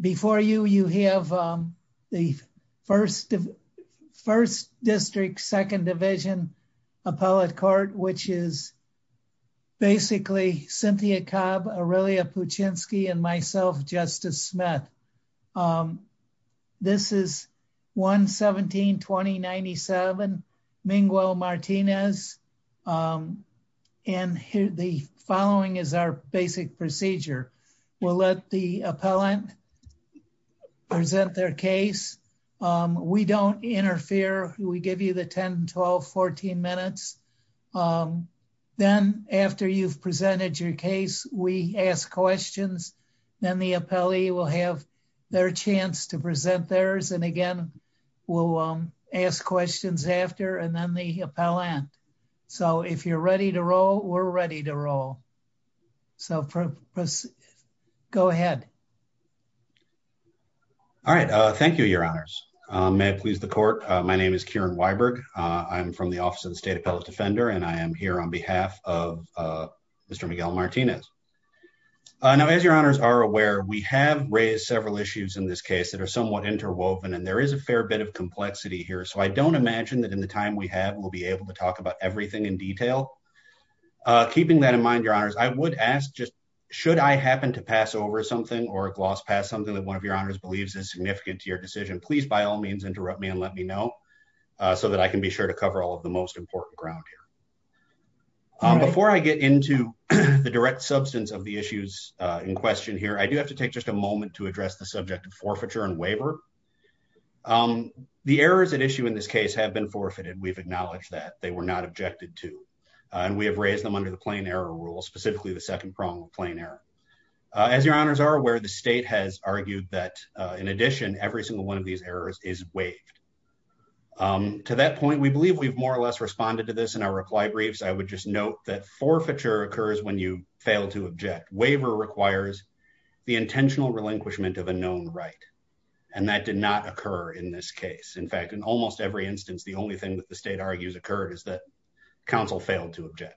Before you, you have the 1st District, 2nd Division Appellate Court, which is basically Cynthia Cobb, Aurelia Puchinski, and myself, Justice Smith. This is 1-17-2097, Minguel Martinez, and the following is our basic procedure. We'll let the appellant present their case. We don't interfere. We give you the 10, 12, 14 minutes. Then after you've presented your case, we ask questions, then the appellee will have their chance to present theirs, and again, we'll ask questions after, and then the appellant. So if you're ready to roll, we're ready to roll. So go ahead. All right. Thank you, Your Honors. May it please the Court. My name is Kieran Weiberg. I'm from the Office of the State Appellate Defender, and I am here on behalf of Mr. Miguel Martinez. Now, as Your Honors are aware, we have raised several issues in this case that are somewhat interwoven, and there is a fair bit of complexity here, so I don't imagine that in the time we have, we'll be able to talk about everything in detail. Keeping that in mind, Your Honors, I would ask just should I happen to pass over something or gloss past something that one of Your Honors believes is significant to your decision, please by all means interrupt me and let me know so that I can be sure to cover all of the most important ground here. Before I get into the direct substance of the issues in question here, I do have to take just a moment to address the subject of forfeiture and waiver. The errors at issue in this case have been forfeited. We've acknowledged that. They were not objected to. We have raised them under the plain error rule, specifically the second prong of plain error. As Your Honors are aware, the State has argued that, in addition, every single one of these errors is waived. To that point, we believe we've more or less responded to this in our reply briefs. I would just note that forfeiture occurs when you fail to object. Waiver requires the intentional relinquishment of a known right, and that did not occur in this case. In fact, in almost every instance, the only thing that the State argues occurred is that you failed to object.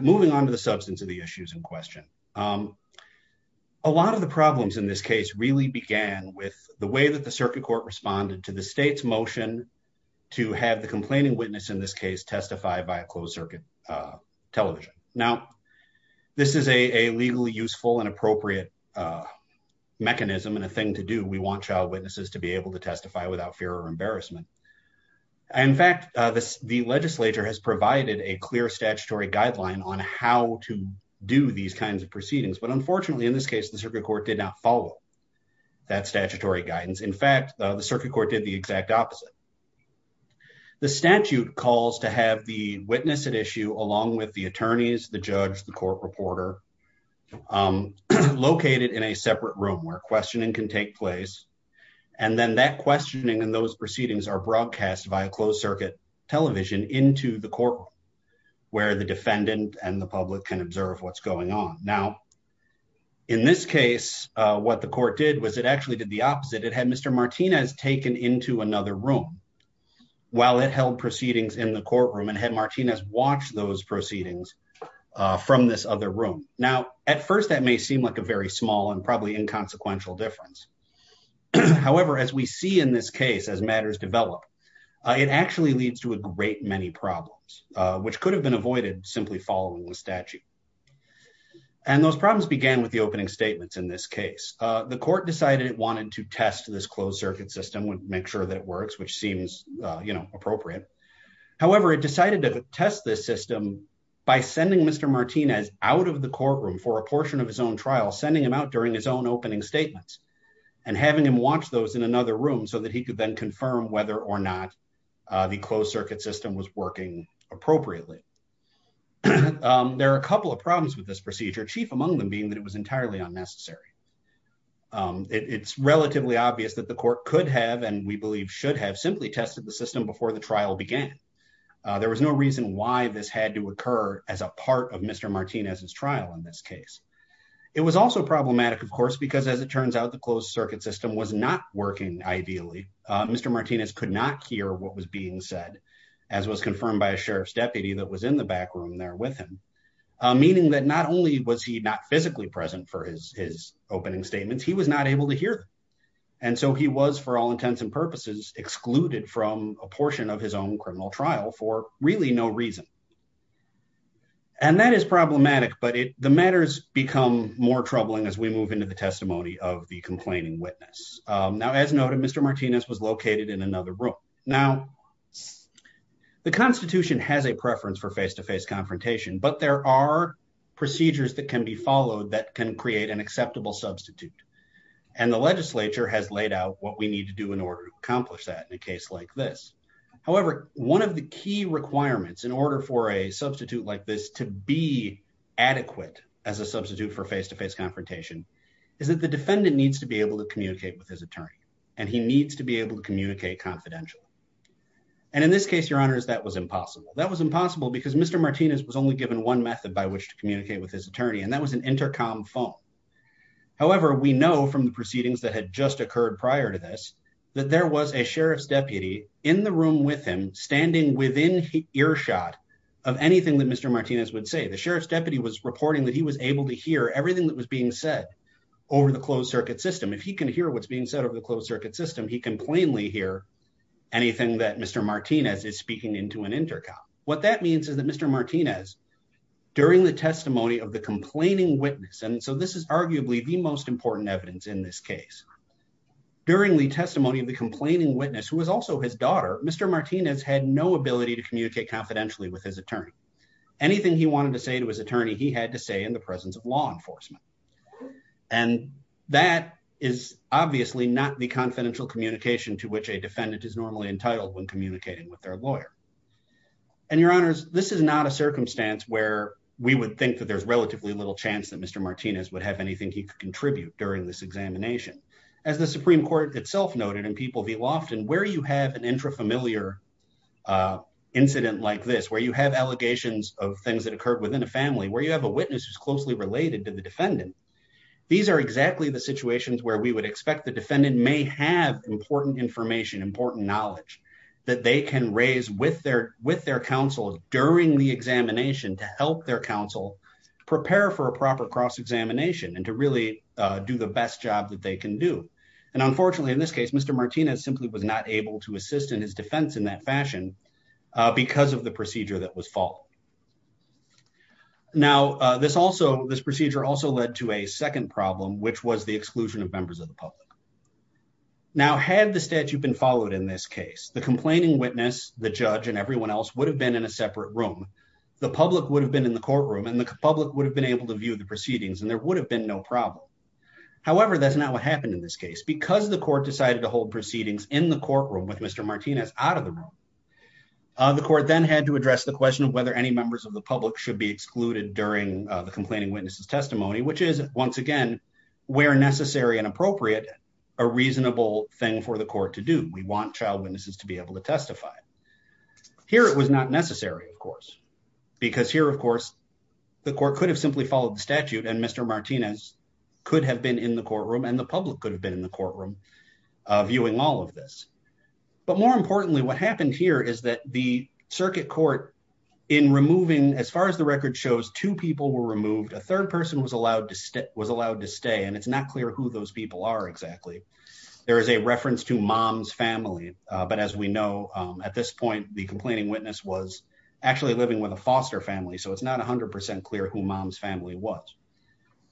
Moving on to the substance of the issues in question, a lot of the problems in this case really began with the way that the Circuit Court responded to the State's motion to have the complaining witness in this case testify by a closed circuit television. Now, this is a legally useful and appropriate mechanism and a thing to do. We want child witnesses to be able to testify without fear or embarrassment. In fact, the legislature has provided a clear statutory guideline on how to do these kinds of proceedings, but unfortunately, in this case, the Circuit Court did not follow that statutory guidance. In fact, the Circuit Court did the exact opposite. The statute calls to have the witness at issue, along with the attorneys, the judge, the court reporter, located in a separate room where questioning can take place, and then that can be broadcast via closed circuit television into the courtroom where the defendant and the public can observe what's going on. Now, in this case, what the court did was it actually did the opposite. It had Mr. Martinez taken into another room while it held proceedings in the courtroom and had Martinez watch those proceedings from this other room. Now, at first, that may seem like a very small and probably inconsequential difference. However, as we see in this case, as matters develop, it actually leads to a great many problems, which could have been avoided simply following the statute, and those problems began with the opening statements. In this case, the court decided it wanted to test this closed circuit system, would make sure that it works, which seems appropriate. However, it decided to test this system by sending Mr. Martinez out of the courtroom for a portion of his own trial, sending him out during his own opening statements. And having him watch those in another room so that he could then confirm whether or not the closed circuit system was working appropriately. There are a couple of problems with this procedure, chief among them being that it was entirely unnecessary. It's relatively obvious that the court could have, and we believe should have, simply tested the system before the trial began. There was no reason why this had to occur as a part of Mr. Martinez's trial in this case. It was also problematic, of course, because as it turns out, the closed circuit system was not working ideally. Mr. Martinez could not hear what was being said, as was confirmed by a sheriff's deputy that was in the back room there with him. Meaning that not only was he not physically present for his opening statements, he was not able to hear. And so he was, for all intents and purposes, excluded from a portion of his own criminal trial for really no reason. And that is problematic, but the matters become more troubling as we move into the testimony of the complaining witness. Now, as noted, Mr. Martinez was located in another room. Now, the Constitution has a preference for face-to-face confrontation, but there are procedures that can be followed that can create an acceptable substitute. And the legislature has laid out what we need to do in order to accomplish that in a case like this. However, one of the key requirements in order for a substitute like this to be adequate as a substitute for face-to-face confrontation is that the defendant needs to be able to communicate with his attorney, and he needs to be able to communicate confidentially. And in this case, Your Honors, that was impossible. That was impossible because Mr. Martinez was only given one method by which to communicate with his attorney, and that was an intercom phone. However, we know from the proceedings that had just occurred prior to this that there was a sheriff's deputy in the room with him standing within earshot of anything that Mr. Martinez would say. The sheriff's deputy was reporting that he was able to hear everything that was being said over the closed circuit system. If he can hear what's being said over the closed circuit system, he can plainly hear anything that Mr. Martinez is speaking into an intercom. What that means is that Mr. Martinez, during the testimony of the complaining witness, and so this is arguably the most important evidence in this case, during the testimony of the complaining witness, who was also his daughter, Mr. Martinez had no ability to communicate confidentially with his attorney. Anything he wanted to say to his attorney, he had to say in the presence of law enforcement. And that is obviously not the confidential communication to which a defendant is normally entitled when communicating with their lawyer. And Your Honors, this is not a circumstance where we would think that there's relatively little chance that Mr. Martinez would have anything he could contribute during this examination. As the Supreme Court itself noted, and people do often, where you have an intrafamiliar incident like this, where you have allegations of things that occurred within a family, where you have a witness who's closely related to the defendant, these are exactly the situations where we would expect the defendant may have important information, important knowledge that they can raise with their counsel during the examination to help their counsel prepare for a proper cross-examination and to really do the best job that they can do. And unfortunately, in this case, Mr. Martinez simply was not able to assist in his defense in that fashion because of the procedure that was followed. Now, this also, this procedure also led to a second problem, which was the exclusion of members of the public. Now, had the statute been followed in this case, the complaining witness, the judge, and everyone else would have been in a separate room. The public would have been in the courtroom, and the public would have been able to view the proceedings, and there would have been no problem. However, that's not what happened in this case. Because the court decided to hold proceedings in the courtroom with Mr. Martinez out of the room, the court then had to address the question of whether any members of the public should be excluded during the complaining witness's testimony, which is, once again, where necessary and appropriate, a reasonable thing for the court to do. We want child witnesses to be able to testify. Here, it was not necessary, of course, because here, of course, the court could have simply followed the statute, and Mr. Martinez could have been in the courtroom, and the public could have been in the courtroom viewing all of this. But more importantly, what happened here is that the circuit court, in removing, as far as the record shows, two people were removed. A third person was allowed to stay, and it's not clear who those people are exactly. There is a reference to mom's family, but as we know, at this point, the complaining witness was actually living with a foster family, so it's not 100% clear who mom's family was.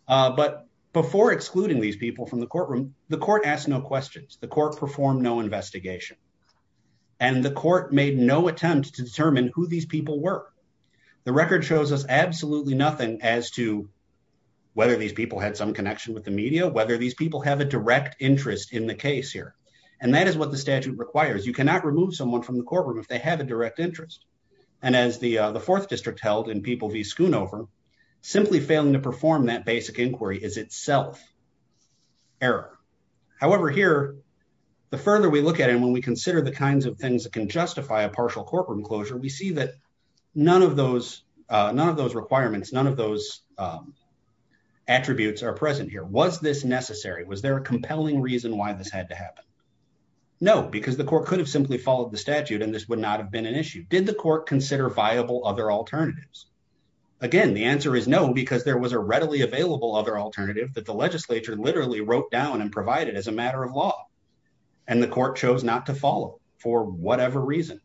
But before excluding these people from the courtroom, the court asked no questions. The court performed no investigation. And the court made no attempt to determine who these people were. The record shows us absolutely nothing as to whether these people had some connection with the media, whether these people have a direct interest in the case here, and that is what the statute requires. You cannot remove someone from the courtroom if they have a direct interest, and as the Fourth District held in People v. Schoonover, simply failing to perform that basic inquiry is itself error. However, here, the further we look at it, and when we consider the kinds of things that can justify a partial courtroom closure, we see that none of those requirements, none of those requirements, was this necessary? Was there a compelling reason why this had to happen? No, because the court could have simply followed the statute, and this would not have been an issue. Did the court consider viable other alternatives? Again, the answer is no, because there was a readily available other alternative that the legislature literally wrote down and provided as a matter of law, and the court chose not to follow for whatever reason.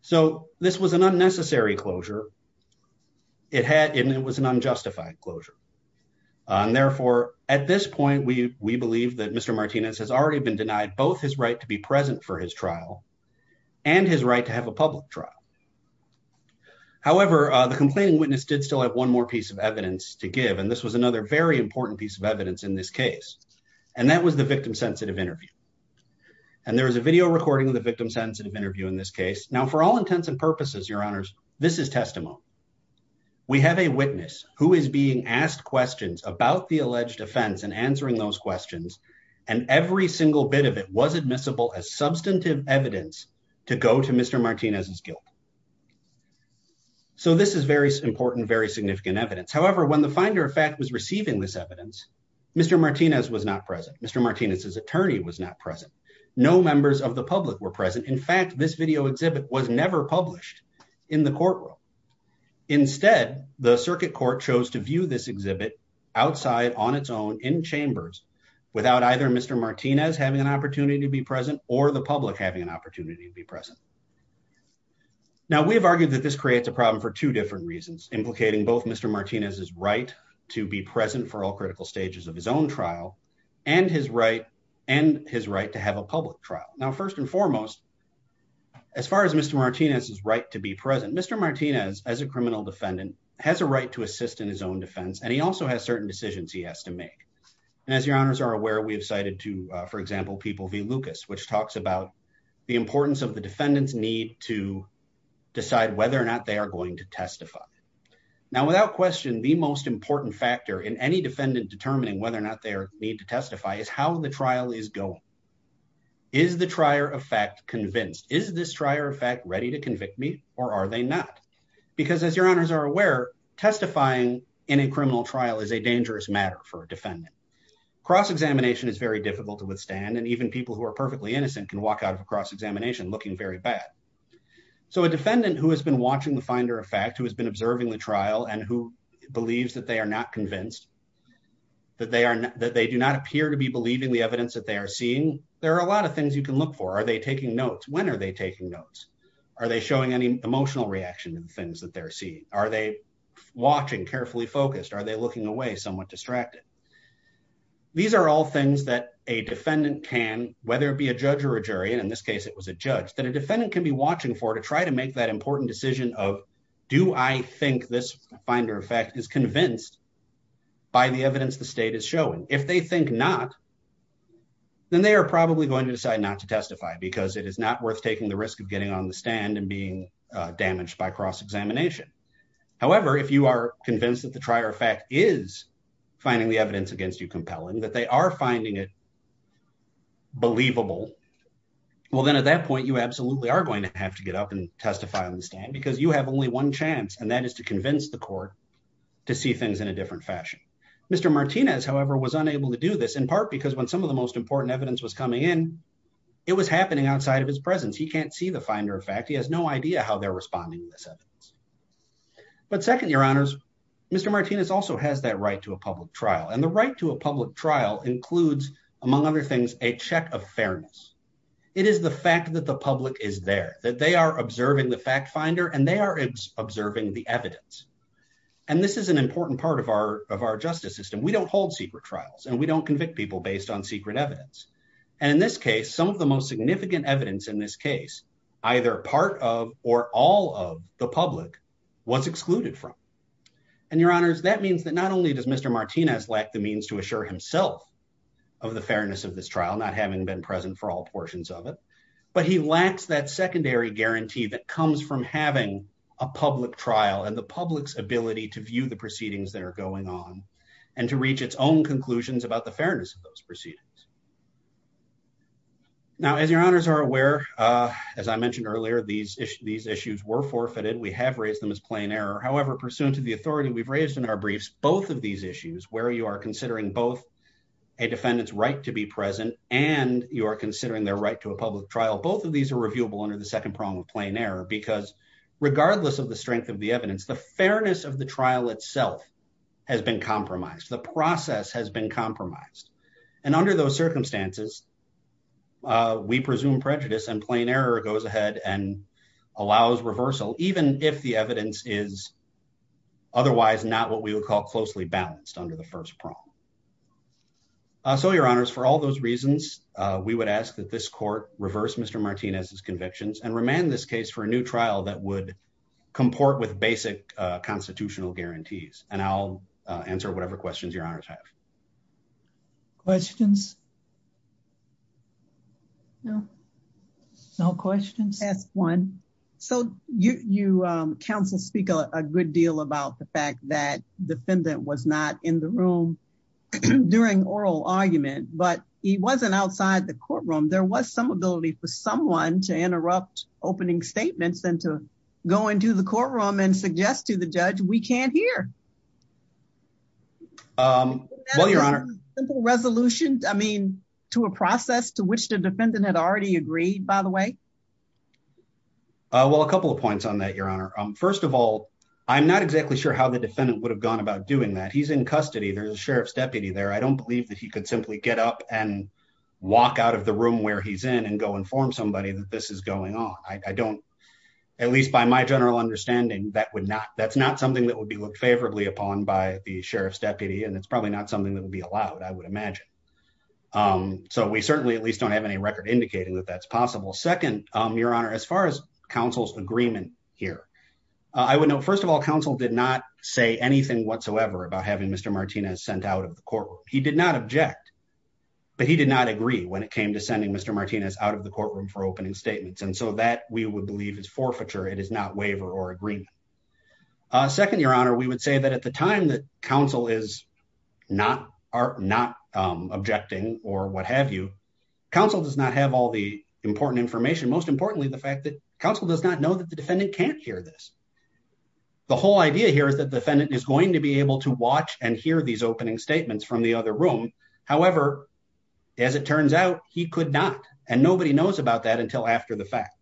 So this was an unnecessary closure, and it was an unjustified closure. And therefore, at this point, we believe that Mr. Martinez has already been denied both his right to be present for his trial and his right to have a public trial. However, the complaining witness did still have one more piece of evidence to give, and this was another very important piece of evidence in this case, and that was the victim-sensitive interview, and there is a video recording of the victim-sensitive interview in this case. Now, for all intents and purposes, Your Honors, this is testimony. We have a witness who is being asked questions about the alleged offense and answering those questions, and every single bit of it was admissible as substantive evidence to go to Mr. Martinez's guilt. So this is very important, very significant evidence. However, when the Finder of Fact was receiving this evidence, Mr. Martinez was not present. Mr. Martinez's attorney was not present. No members of the public were present. In fact, this video exhibit was never published in the courtroom. Instead, the circuit court chose to view this exhibit outside on its own in chambers without either Mr. Martinez having an opportunity to be present or the public having an opportunity to be present. Now, we have argued that this creates a problem for two different reasons, implicating both Mr. Martinez's right to be present for all critical stages of his own trial and his right to have a public trial. Now, first and foremost, as far as Mr. Martinez's right to be present, Mr. Martinez, as a criminal defendant, has a right to assist in his own defense, and he also has certain decisions he has to make. And as your honors are aware, we have cited to, for example, People v. Lucas, which talks about the importance of the defendant's need to decide whether or not they are going to testify. Now, without question, the most important factor in any defendant determining whether or not they need to testify is how the trial is going. Is the trier of fact convinced? Is this trier of fact ready to convict me, or are they not? Because as your honors are aware, testifying in a criminal trial is a dangerous matter for a defendant. Cross-examination is very difficult to withstand, and even people who are perfectly innocent can walk out of a cross-examination looking very bad. So a defendant who has been watching the finder of fact, who has been observing the trial and who believes that they are not convinced, that they do not appear to be believing the evidence that they are seeing, there are a lot of things you can look for. Are they taking notes? When are they taking notes? Are they showing any emotional reaction to the things that they're seeing? Are they watching carefully focused? Are they looking away somewhat distracted? These are all things that a defendant can, whether it be a judge or a jury, and in this case it was a judge, that a defendant can be watching for to try to make that important decision of, do I think this finder of fact is convinced by the evidence the state is showing? If they think not, then they are probably going to decide not to testify because it is not worth taking the risk of getting on the stand and being damaged by cross-examination. However, if you are convinced that the trier of fact is finding the evidence against you compelling, that they are finding it believable, well then at that point you absolutely are going to have to get up and testify on the stand because you have only one chance, and that is to convince the court to see things in a different fashion. Mr. Martinez, however, was unable to do this in part because when some of the most important evidence was coming in, it was happening outside of his presence. He can't see the finder of fact. He has no idea how they are responding to this evidence. But second, your honors, Mr. Martinez also has that right to a public trial, and the right to a public trial includes, among other things, a check of fairness. It is the fact that the public is there, that they are observing the fact finder and they are observing the evidence, and this is an important part of our justice system. We don't hold secret trials and we don't convict people based on secret evidence. And in this case, some of the most significant evidence in this case, either part of or all of the public, was excluded from. And your honors, that means that not only does Mr. Martinez lack the means to assure himself of the fairness of this trial, not having been present for all portions of it, but he lacks that secondary guarantee that comes from having a public trial and the public's to view the proceedings that are going on and to reach its own conclusions about the fairness of those proceedings. Now, as your honors are aware, as I mentioned earlier, these issues were forfeited. We have raised them as plain error. However, pursuant to the authority we've raised in our briefs, both of these issues, where you are considering both a defendant's right to be present and you are considering their right to a public trial, both of these are reviewable under the second prong of plain error, because regardless of the strength of the evidence, the fairness of the trial itself has been compromised. The process has been compromised. And under those circumstances, we presume prejudice and plain error goes ahead and allows reversal, even if the evidence is otherwise not what we would call closely balanced under the first prong. So your honors, for all those reasons, we would ask that this court reverse Mr. Martinez's for a new trial that would comport with basic constitutional guarantees. And I'll answer whatever questions your honors have. Questions? No, no questions. Ask one. So you counsel speak a good deal about the fact that defendant was not in the room during oral argument, but he wasn't outside the courtroom. There was some ability for someone to interrupt opening statements and to go into the courtroom and suggest to the judge, we can't hear. Um, well, your honor resolution, I mean, to a process to which the defendant had already agreed, by the way. Well, a couple of points on that, your honor. First of all, I'm not exactly sure how the defendant would have gone about doing that. He's in custody. There's a sheriff's deputy there. I don't believe that he could simply get up and walk out of the room where he's in and go inform somebody that this is going on. I don't, at least by my general understanding, that would not, that's not something that would be looked favorably upon by the sheriff's deputy. And it's probably not something that would be allowed. I would imagine. Um, so we certainly at least don't have any record indicating that that's possible. Second, um, your honor, as far as counsel's agreement here, uh, I would know, first of all, counsel did not say anything whatsoever about having Mr. Martinez sent out of the courtroom. He did not object, but he did not agree when it came to sending Mr. Martinez out of the courtroom for opening statements. And so that we would believe is forfeiture. It is not waiver or agreement. Uh, second, your honor, we would say that at the time that counsel is not, are not, um, objecting or what have you counsel does not have all the important information. Most importantly, the fact that counsel does not know that the defendant can't hear this. The whole idea here is that defendant is going to be able to watch and hear these opening statements from the other room. However, as it turns out, he could not, and nobody knows about that until after the fact.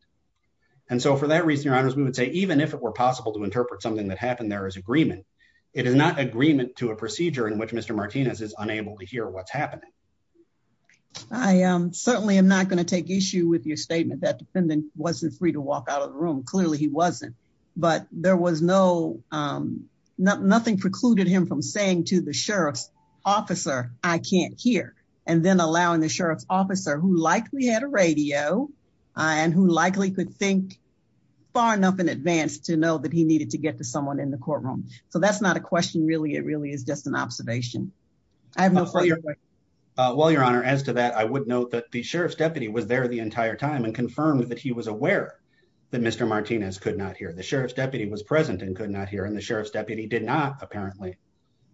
And so for that reason, your honors, we would say, even if it were possible to interpret something that happened, there is agreement. It is not agreement to a procedure in which Mr. Martinez is unable to hear what's happening. I am certainly am not going to take issue with your statement that defendant wasn't free to walk out of the room. Clearly he wasn't. But there was no, um, no, nothing precluded him from saying to the sheriff's officer, I can't hear. And then allowing the sheriff's officer who likely had a radio, uh, and who likely could think far enough in advance to know that he needed to get to someone in the courtroom. So that's not a question. Really. It really is just an observation. I have no, uh, well, your honor, as to that, I would note that the sheriff's deputy was deputy was present and could not hear. And the sheriff's deputy did not apparently,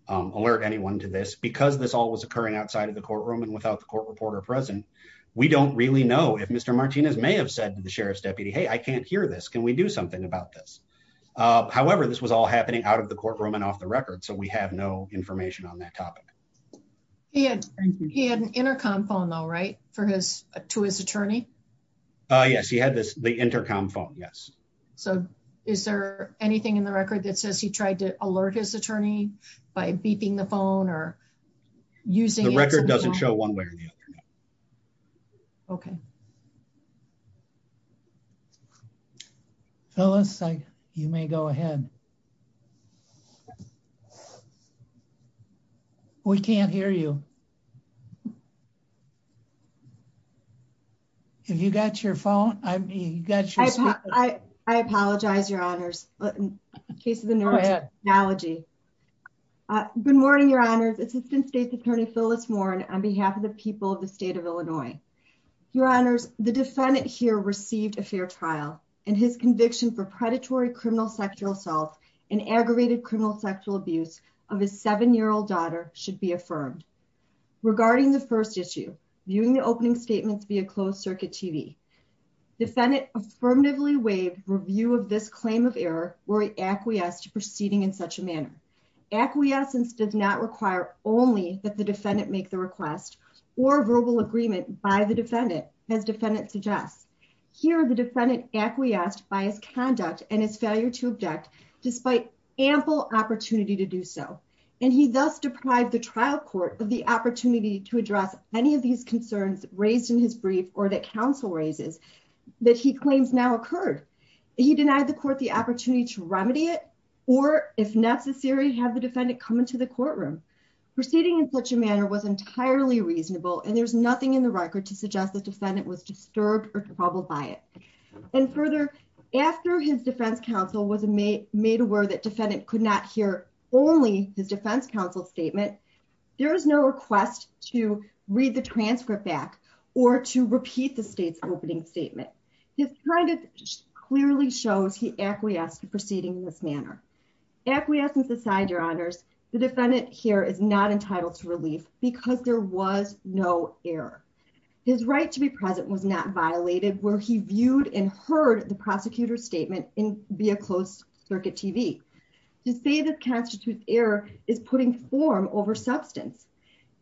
um, alert anyone to this because this all was occurring outside of the courtroom and without the court reporter present, we don't really know if Mr. Martinez may have said to the sheriff's deputy, Hey, I can't hear this. Can we do something about this? Uh, however, this was all happening out of the courtroom and off the record. So we have no information on that topic. He had, he had an intercom phone though, right? For his, to his attorney. Uh, yes, he had this, the intercom phone. Yes. So is there anything in the record that says he tried to alert his attorney by beeping the phone or using the record? It doesn't show one way or the other. Okay. So let's say you may go ahead. We can't hear you. Have you got your phone? I mean, you got your. I apologize. Your honors case of the analogy. Good morning, your honors. Assistant state's attorney Phyllis Warren on behalf of the people of the state of Illinois, your honors, the defendant here received a fair trial and his conviction for predatory criminal sexual assault and aggravated criminal sexual abuse of his seven-year-old daughter should be affirmed regarding the first issue. Viewing the opening statements via closed circuit TV. Defendant affirmatively waived review of this claim of error where he acquiesced to proceeding in such a manner. Acquiescence does not require only that the defendant make the request or verbal agreement by the defendant. As defendant suggests here, the defendant acquiesced by his conduct and his failure to object despite ample opportunity to do so. And he does deprive the trial court of the opportunity to address any of these concerns raised in his brief or that counsel raises that he claims now occurred. He denied the court the opportunity to remedy it or if necessary, have the defendant come into the courtroom. Proceeding in such a manner was entirely reasonable and there's nothing in the record to suggest the defendant was disturbed or troubled by it. And further, after his defense counsel was made aware that defendant could not hear only his defense counsel statement, there is no request to read the transcript back or to repeat the state's opening statement. This kind of clearly shows he acquiesced to proceeding in this manner. Acquiescence aside, your honors, the defendant here is not entitled to relief because there was no error. His right to be present was not violated where he viewed and heard the prosecutor's statement in via closed circuit TV. To say this constitutes error is putting form over substance.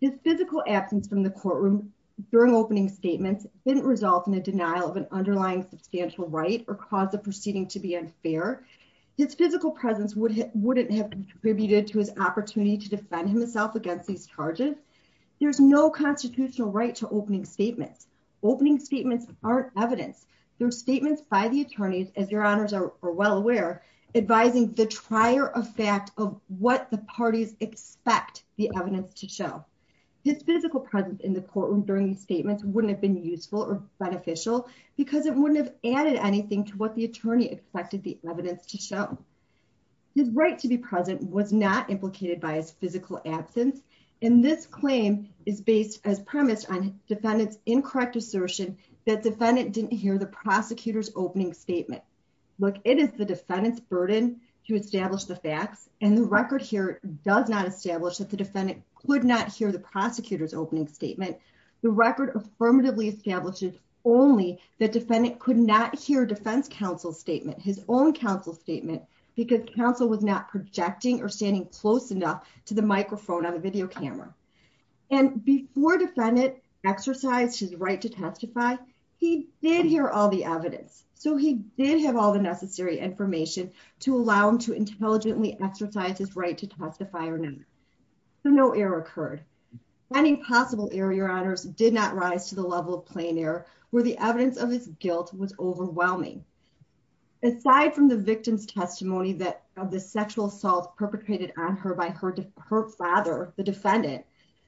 His physical absence from the courtroom during opening statements didn't result in a denial of an underlying substantial right or cause of proceeding to be unfair. His physical presence wouldn't have contributed to his opportunity to defend himself against these charges. There's no constitutional right to opening statements. Opening statements aren't evidence. They're statements by the attorneys, as your honors are well aware, advising the trier of fact of what the parties expect the evidence to show. His physical presence in the courtroom during these statements wouldn't have been useful or beneficial because it wouldn't have added anything to what the attorney expected the evidence to show. His right to be present was not implicated by his physical absence and this claim is as premise on defendant's incorrect assertion that defendant didn't hear the prosecutor's opening statement. Look, it is the defendant's burden to establish the facts and the record here does not establish that the defendant could not hear the prosecutor's opening statement. The record affirmatively establishes only the defendant could not hear defense counsel's statement, his own counsel statement, because counsel was not projecting or standing close enough to the microphone on the video camera. And before defendant exercised his right to testify, he did hear all the evidence. So he did have all the necessary information to allow him to intelligently exercise his right to testify or not. So no error occurred. Any possible error, your honors, did not rise to the level of plain error where the evidence of his guilt was overwhelming. Aside from the victim's testimony of the sexual assault perpetrated on her by her father, the defendant,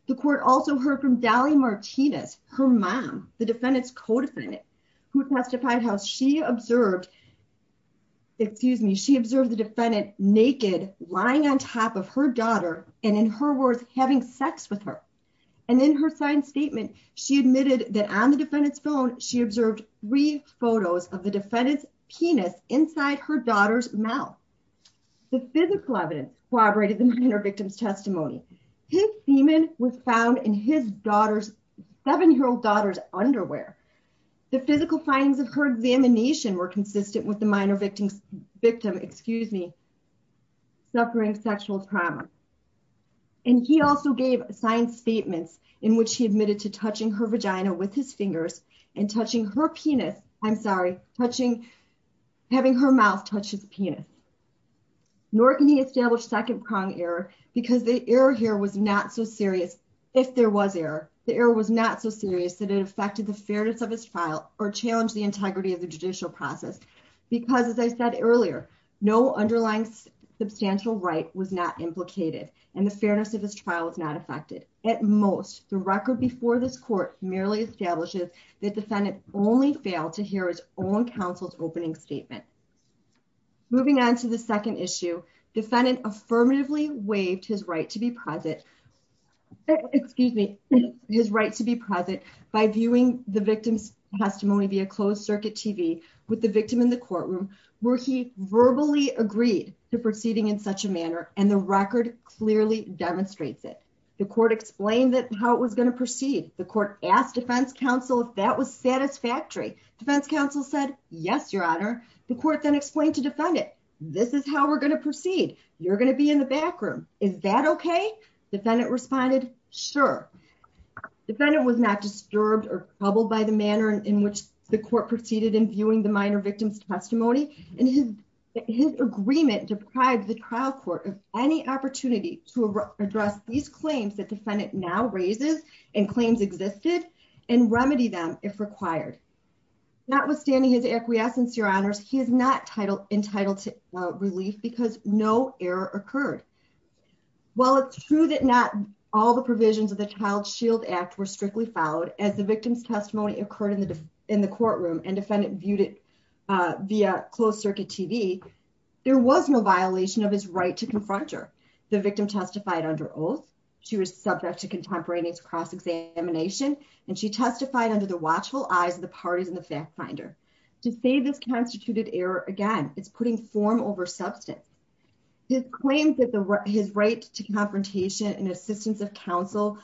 the court also heard from Dally Martinez, her mom, the defendant's co-defendant, who testified how she observed, excuse me, she observed the defendant naked, lying on top of her daughter, and in her words, having sex with her. And in her signed statement, she admitted that on the defendant's phone, she observed three photos of the defendant's penis inside her daughter's mouth. The physical evidence corroborated the minor victim's testimony. His semen was found in his daughter's, seven-year-old daughter's underwear. The physical findings of her examination were consistent with the minor victim, excuse me, suffering sexual trauma. And he also gave signed statements in which he admitted to touching her vagina with his fingers and touching her penis, I'm sorry, touching, having her mouth touch his penis. Nor can he establish second-pronged error because the error here was not so serious, if there was error, the error was not so serious that it affected the fairness of his trial or challenged the integrity of the judicial process. Because as I said earlier, no underlying substantial right was not implicated and the fairness of his trial was not affected. At most, the record before this court merely establishes the defendant only failed to hear his own counsel's opening statement. Moving on to the second issue, defendant affirmatively waived his right to be present, excuse me, his right to be present by viewing the victim's testimony via closed circuit TV with the victim in the courtroom where he verbally agreed to proceeding in such a manner and the record clearly demonstrates it. The court explained that how it was going to proceed. The court asked defense counsel if that was satisfactory. Defense counsel said, yes, your honor. The court then explained to defendant, this is how we're going to proceed. You're going to be in the back room. Is that okay? Defendant responded, sure. Defendant was not disturbed or troubled by the manner in which the court proceeded in viewing the minor victim's testimony and his agreement deprived the trial court of any opportunity to address these claims that defendant now raises and claims existed and remedy them if required. Notwithstanding his acquiescence, your honors, he is not entitled to relief because no error occurred. While it's true that not all the provisions of the Child Shield Act were strictly followed as the victim's testimony occurred in the courtroom and defendant viewed it via closed circuit TV, there was no violation of his right to confront her. The victim testified under oath. She was subject to contemporaneous cross-examination and she testified under the watchful eyes of the parties in the fact finder. To say this constituted error, again, it's putting form over substance. His claim that his right to confrontation and assistance of counsel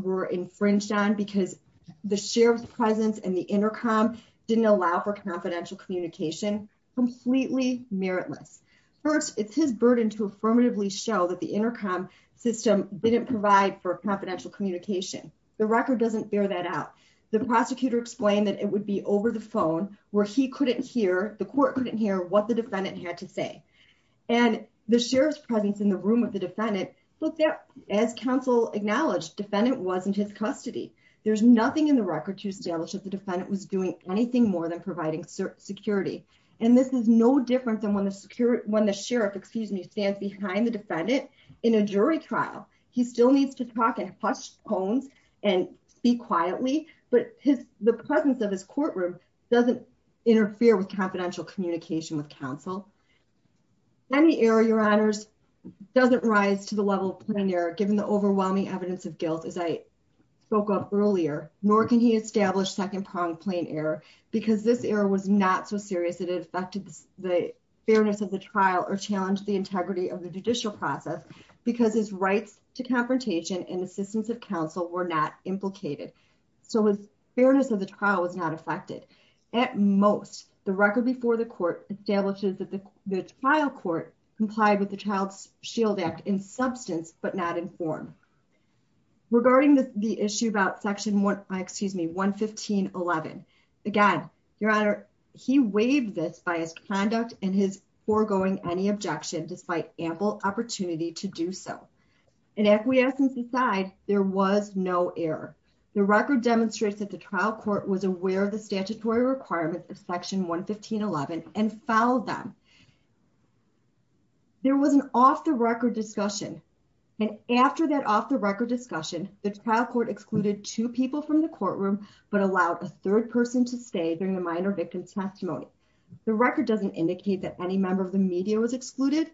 were infringed on because the sheriff's presence and the intercom didn't allow for confidential communication, completely meritless. First, it's his burden to affirmatively show that the intercom system didn't provide for confidential communication. The record doesn't bear that out. The prosecutor explained that it would be over the phone where he couldn't hear, the court couldn't hear what the defendant had to say. And the sheriff's presence in the room of the defendant looked at, as counsel acknowledged, defendant wasn't his custody. There's nothing in the record to establish that the defendant was doing anything more than providing security. And this is no different than when the sheriff, excuse me, stands behind the defendant in a jury trial. He still needs to talk in hushed tones and speak quietly. But the presence of his courtroom doesn't interfere with confidential communication with counsel. Any error, your honors, doesn't rise to the level of plain error given the overwhelming evidence of guilt as I spoke of earlier. Nor can he establish second-pronged plain error because this error was not so serious that it affected the fairness of the trial or challenged the integrity of the judicial process because his rights to confrontation and assistance of counsel were not implicated. So his fairness of the trial was not affected. At most, the record before the court establishes that the trial court complied with the Child's Shield Act in substance but not in form. Regarding the issue about section, excuse me, 115.11, again, your honor, he waived this by his conduct and his foregoing any objection despite ample opportunity to do so. In acquiescence aside, there was no error. The record demonstrates that the trial court was aware of the statutory requirements of section 115.11 and followed them. There was an off-the-record discussion. And after that off-the-record discussion, the trial court excluded two people from the courtroom but allowed a third person to stay during the minor victim's testimony. The record doesn't indicate that any member of the media was excluded.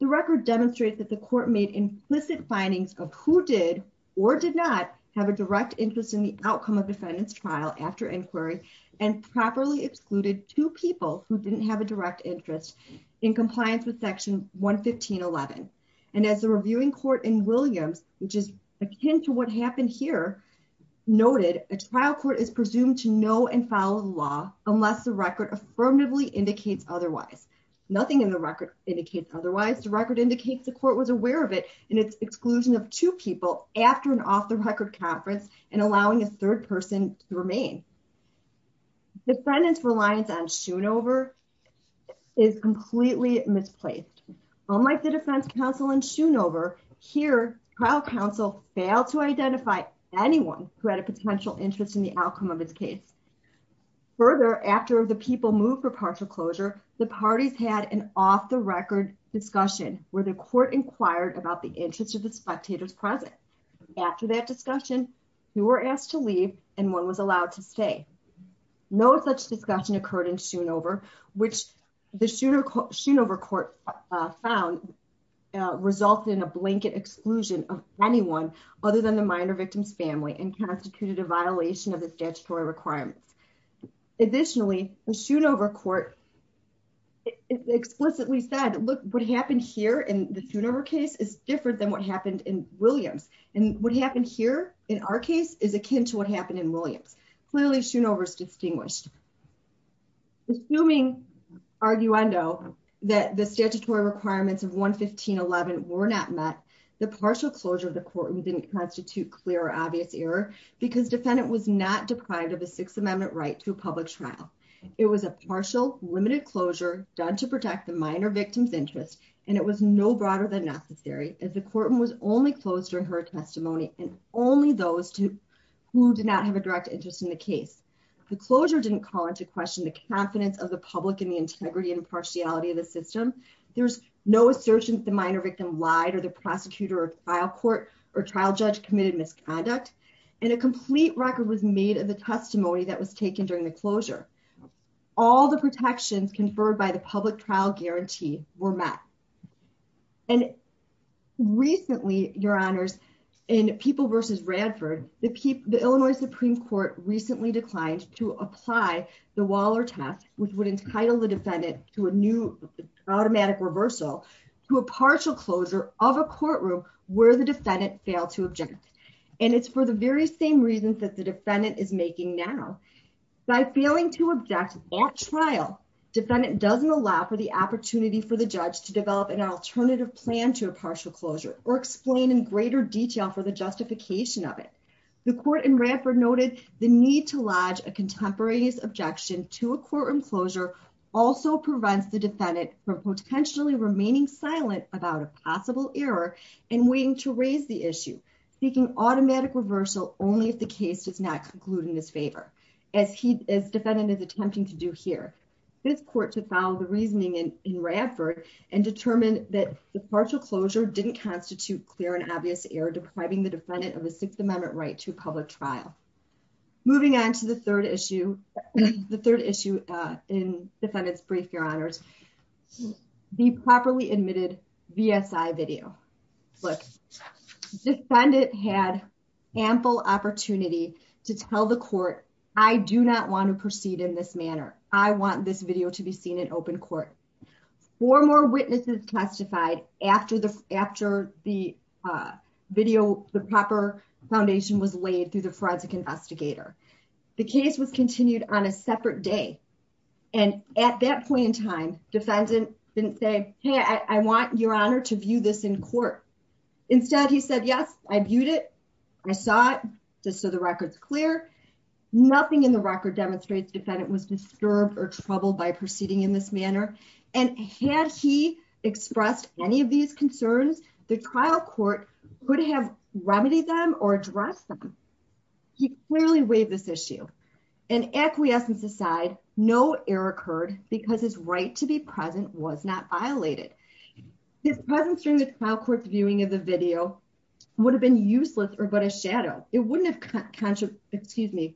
The record demonstrates that the court made implicit findings of who did or did not have a direct interest in the outcome of defendant's trial after inquiry and properly excluded two people who didn't have a direct interest in compliance with section 115.11. And as the reviewing court in Williams, which is akin to what happened here, noted, a trial court is presumed to know and follow the law unless the record affirmatively indicates otherwise. Nothing in the record indicates otherwise. The record indicates the court was aware of it in its exclusion of two people after an off-the-record conference and allowing a third person to remain. Defendant's reliance on Shoonover is completely misplaced. Unlike the defense counsel in Shoonover, here, trial counsel failed to identify anyone who had a potential interest in the outcome of his case. Further, after the people moved for partial closure, the parties had an off-the-record discussion where the court inquired about the interest of the spectators present. After that discussion, two were asked to leave and one was allowed to stay. No such discussion occurred in Shoonover, which the Shoonover court found resulted in exclusion of anyone other than the minor victim's family and constituted a violation of the statutory requirements. Additionally, the Shoonover court explicitly said, look, what happened here in the Shoonover case is different than what happened in Williams. And what happened here in our case is akin to what happened in Williams. Clearly, Shoonover is distinguished. Assuming, arguendo, that the statutory requirements of 115.11 were not met, the partial closure of the court didn't constitute clear or obvious error because defendant was not deprived of a Sixth Amendment right to a public trial. It was a partial, limited closure done to protect the minor victim's interest and it was no broader than necessary as the courtroom was only closed during her testimony and only those who did not have a direct interest in the case. The closure didn't call into question the confidence of the public in the integrity and impartiality of the system. There's no assertion that the minor victim lied or the prosecutor or trial court or trial judge committed misconduct. And a complete record was made of the testimony that was taken during the closure. All the protections conferred by the public trial guarantee were met. And recently, your honors, in People v. Radford, the Illinois Supreme Court recently declined to apply the Waller test, which would entitle the defendant to a new automatic reversal to a partial closure of a courtroom where the defendant failed to object. And it's for the very same reasons that the defendant is making now. By failing to object at trial, defendant doesn't allow for the opportunity for the judge to develop an alternative plan to a partial closure or explain in greater detail for the justification of it. The court in Radford noted the need to lodge a contemporaneous objection to a courtroom closure also prevents the defendant from potentially remaining silent about a possible error and waiting to raise the issue, seeking automatic reversal only if the case does not conclude in his favor, as he, as defendant is attempting to do here. This court to found the reasoning in Radford and determined that the partial closure didn't constitute clear and obvious error depriving the defendant of a Sixth Amendment right to public trial. Moving on to the third issue, the third issue in defendant's brief, your honors, the properly admitted VSI video. Look, defendant had ample opportunity to tell the court, I do not want to proceed in this manner. I want this video to be seen in open court. Four more witnesses testified after the video, the proper foundation was laid through the forensic investigator. The case was continued on a separate day. And at that point in time, defendant didn't say, hey, I want your honor to view this in court. Instead, he said, yes, I viewed it. I saw it just so the record's clear. Nothing in the record demonstrates defendant was disturbed or troubled by proceeding in this manner. And had he expressed any of these concerns, the trial court could have remedied them or addressed them. He clearly waived this issue. And acquiescence aside, no error occurred because his right to be present was not violated. His presence during the trial court's viewing of the video would have been useless or but a shadow. It wouldn't have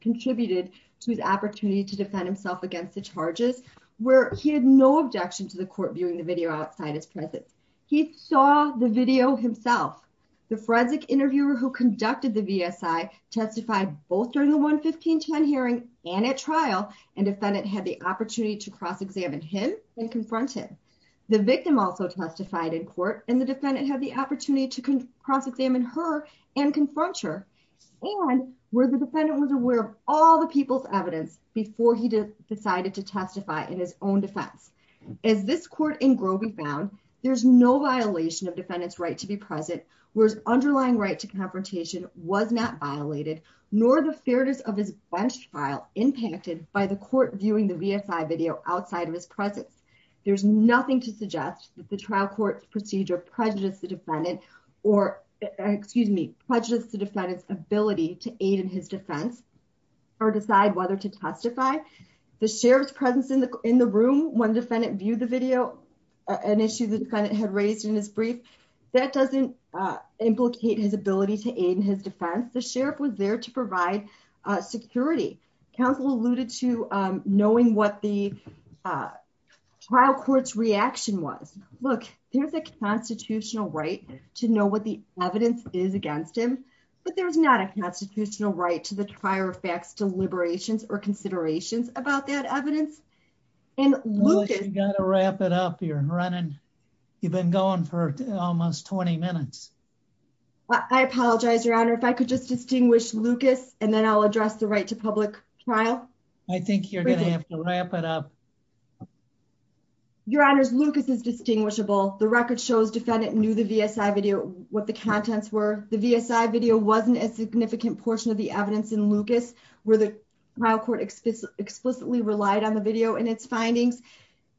contributed to his opportunity to defend himself against the charges where he had no objection to the court viewing the video outside his presence. He saw the video himself. The forensic interviewer who conducted the VSI testified both during the 11510 hearing and at trial and defendant had the opportunity to cross-examine him and confront him. The victim also testified in court and the defendant had the opportunity to cross-examine her and confront her. And where the defendant was aware of all the people's evidence before he decided to testify in his own defense. As this court in Groby found, there's no violation of defendant's right to be present, whereas underlying right to confrontation was not violated, nor the fairness of his bench trial impacted by the court viewing the VSI video outside of his presence. There's nothing to suggest that the trial court procedure prejudiced the defendant or, excuse me, prejudiced the defendant's ability to aid in his defense or decide whether to testify. The sheriff's presence in the room when defendant viewed the video, an issue the defendant had raised in his brief, that doesn't implicate his ability to aid in his defense. The sheriff was there to provide security. Counsel alluded to knowing what the trial court's reaction was. Look, there's a constitutional right to know what the evidence is against him, but there's not a constitutional right to the prior facts, deliberations, or considerations about that evidence. And you got to wrap it up. You're running. You've been going for almost 20 minutes. I apologize, your honor. If I could just distinguish Lucas and then I'll address the right to public trial. I think you're going to have to wrap it up. Your honors, Lucas is distinguishable. The record shows defendant knew the VSI video, what the contents were. The VSI video wasn't a significant portion of the evidence in Lucas, where the trial court explicitly relied on the video and its findings.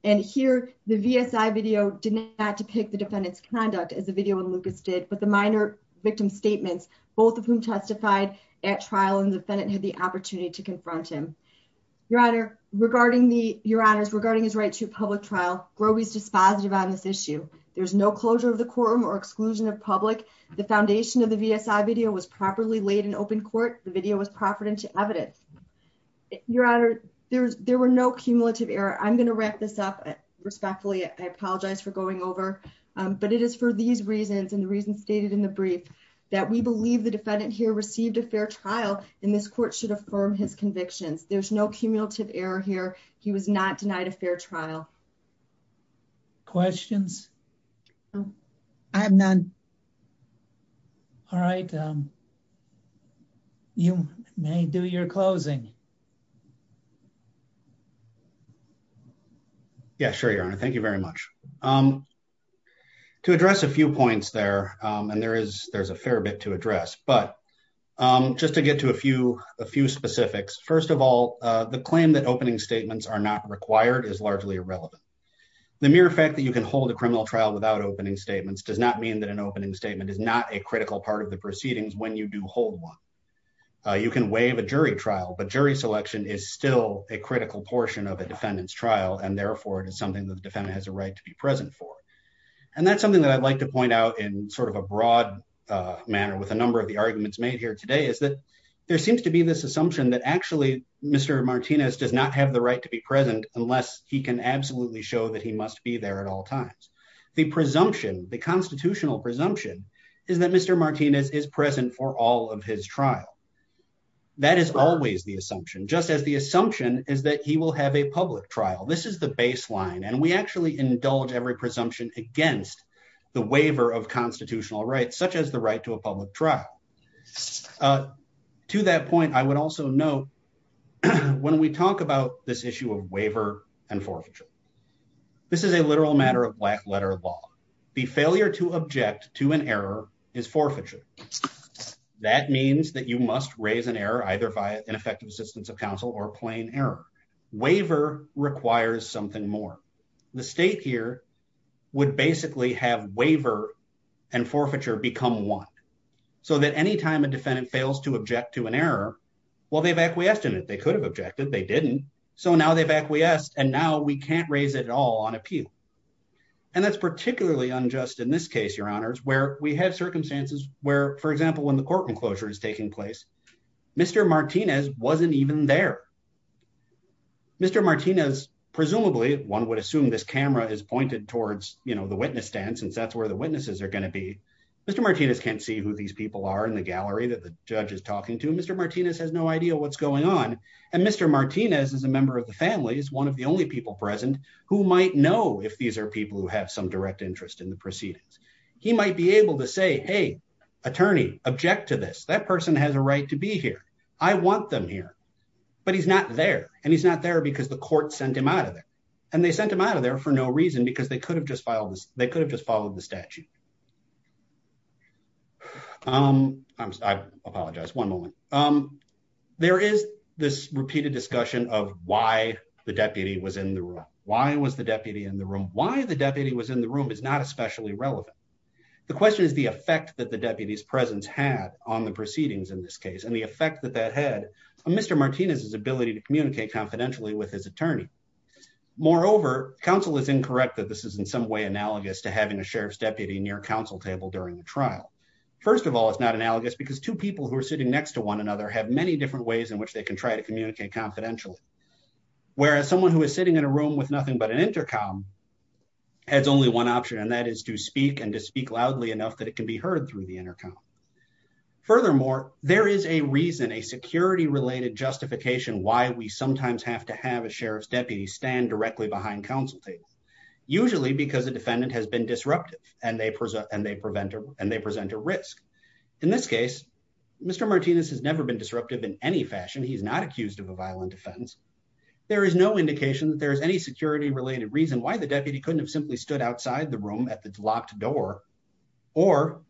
And here, the VSI video did not depict the defendant's conduct as the video in Lucas did, but the minor victim statements, both of whom testified at trial and the defendant had the opportunity to confront him. Your honor, regarding the, your honors, regarding his right to public trial, Groby's dispositive on this issue. There's no closure of the courtroom or exclusion of public. The foundation of the VSI video was properly laid in open court. The video was proffered into evidence. Your honor, there's, there were no cumulative error. I'm going to wrap this up respectfully. I apologize for going over, but it is for these reasons. And the reason stated in the brief that we believe the defendant here received a fair trial in this court should affirm his convictions. There's no cumulative error here. He was not denied a fair trial. Questions. No, I have none. All right. You may do your closing. Yeah, sure. Your honor. Thank you very much to address a few points there. And there is, there's a fair bit to address, but just to get to a few, a few specifics. First of all, the claim that opening statements are not required is largely irrelevant. The mere fact that you can hold a criminal trial without opening statements does not mean that an opening statement is not a critical part of the proceedings. When you do hold one, you can waive a jury trial, but jury selection is still a critical portion of a defendant's trial. And therefore it is something that the defendant has a right to be present for. And that's something that I'd like to point out in sort of a broad manner with a number of the arguments made here today is that there seems to be this assumption that actually Mr. Martinez does not have the right to be present unless he can absolutely show that he must be there at all times. The presumption, the constitutional presumption is that Mr. Martinez is present for all of his trial. That is always the assumption, just as the assumption is that he will have a public trial. This is the baseline. And we actually indulge every presumption against the waiver of constitutional rights, such as the right to a public trial. Uh, to that point, I would also know when we talk about this issue of waiver and forfeiture, this is a literal matter of black letter law. The failure to object to an error is forfeiture. That means that you must raise an error, either via ineffective assistance of counsel or plain error. Waiver requires something more. The state here would basically have waiver and forfeiture become one. So that any time a defendant fails to object to an error, well, they've acquiesced in it. They could have objected. They didn't. So now they've acquiesced and now we can't raise it at all on appeal. And that's particularly unjust in this case, your honors, where we have circumstances where, for example, when the courtroom closure is taking place, Mr. Martinez wasn't even there. Mr. Martinez, presumably one would assume this camera is pointed towards, you know, the witness stand since that's where the witnesses are going to be. Mr. Martinez can't see who these people are in the gallery that the judge is talking to. Mr. Martinez has no idea what's going on. And Mr. Martinez is a member of the family, is one of the only people present who might know if these are people who have some direct interest in the proceedings. He might be able to say, hey, attorney, object to this. That person has a right to be here. I want them here. But he's not there. And he's not there because the court sent him out of there. And they sent him out of there for no reason because they could have just filed this. They could have just followed the statute. Um, I apologize. One moment. Um, there is this repeated discussion of why the deputy was in the room. Why was the deputy in the room? Why the deputy was in the room is not especially relevant. The question is the effect that the deputy's presence had on the proceedings in this case. And the effect that that had Mr. Martinez's ability to communicate confidentially with his attorney. Moreover, counsel is incorrect that this is in some way analogous to having a sheriff's during the trial. First of all, it's not analogous because two people who are sitting next to one another have many different ways in which they can try to communicate confidentially. Whereas someone who is sitting in a room with nothing but an intercom has only one option. And that is to speak and to speak loudly enough that it can be heard through the intercom. Furthermore, there is a reason a security related justification why we sometimes have to have a sheriff's deputy stand directly behind counsel table. Usually because the defendant has been disruptive and they present a risk. In this case, Mr. Martinez has never been disruptive in any fashion. He's not accused of a violent offense. There is no indication that there is any security related reason why the deputy couldn't have simply stood outside the room at the locked door or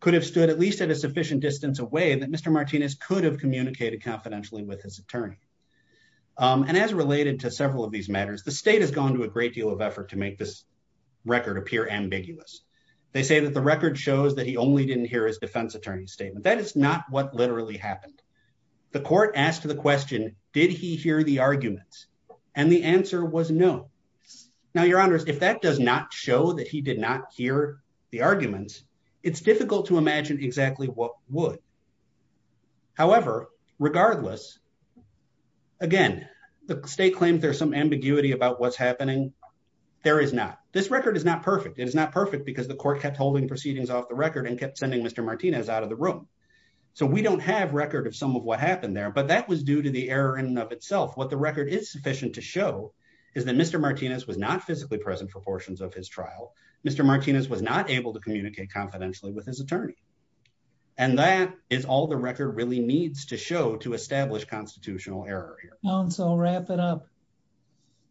could have stood at least at a sufficient distance away that Mr. Martinez could have communicated confidentially with his attorney. And as related to several of these matters, the state has gone to a great deal of effort to make this record appear ambiguous. They say that the record shows that he only didn't hear his defense attorney statement. That is not what literally happened. The court asked the question, did he hear the arguments? And the answer was no. Now, your honors, if that does not show that he did not hear the arguments, it's difficult to imagine exactly what would. However, regardless, again, the state claims there's some ambiguity about what's happening. There is not. This record is not perfect. It is not perfect because the court kept holding proceedings off the record and kept sending Mr. Martinez out of the room. So we don't have record of some of what happened there, but that was due to the error in and of itself. What the record is sufficient to show is that Mr. Martinez was not physically present for portions of his trial. Mr. Martinez was not able to communicate confidentially with his attorney. And that is all the record really needs to show to establish constitutional error here. And so wrap it up.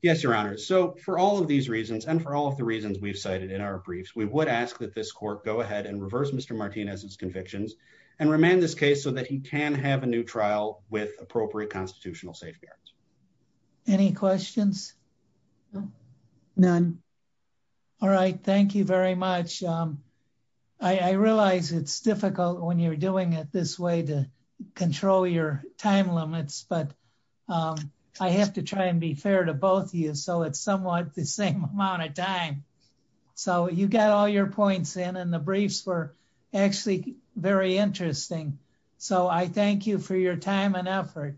Yes, your honors. So for all of these reasons, and for all of the reasons we've cited in our briefs, we would ask that this court go ahead and reverse Mr. Martinez's convictions and remain this case so that he can have a new trial with appropriate constitutional safeguards. Any questions? None. All right. Thank you very much. I realize it's difficult when you're doing it this way to control your time limits, but I have to try and be fair to both of you. So it's somewhat the same amount of time. So you got all your points in and the briefs were actually very interesting. So I thank you for your time and effort.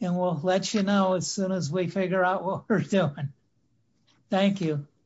And we'll let you know as soon as we figure out what we're doing. Thank you.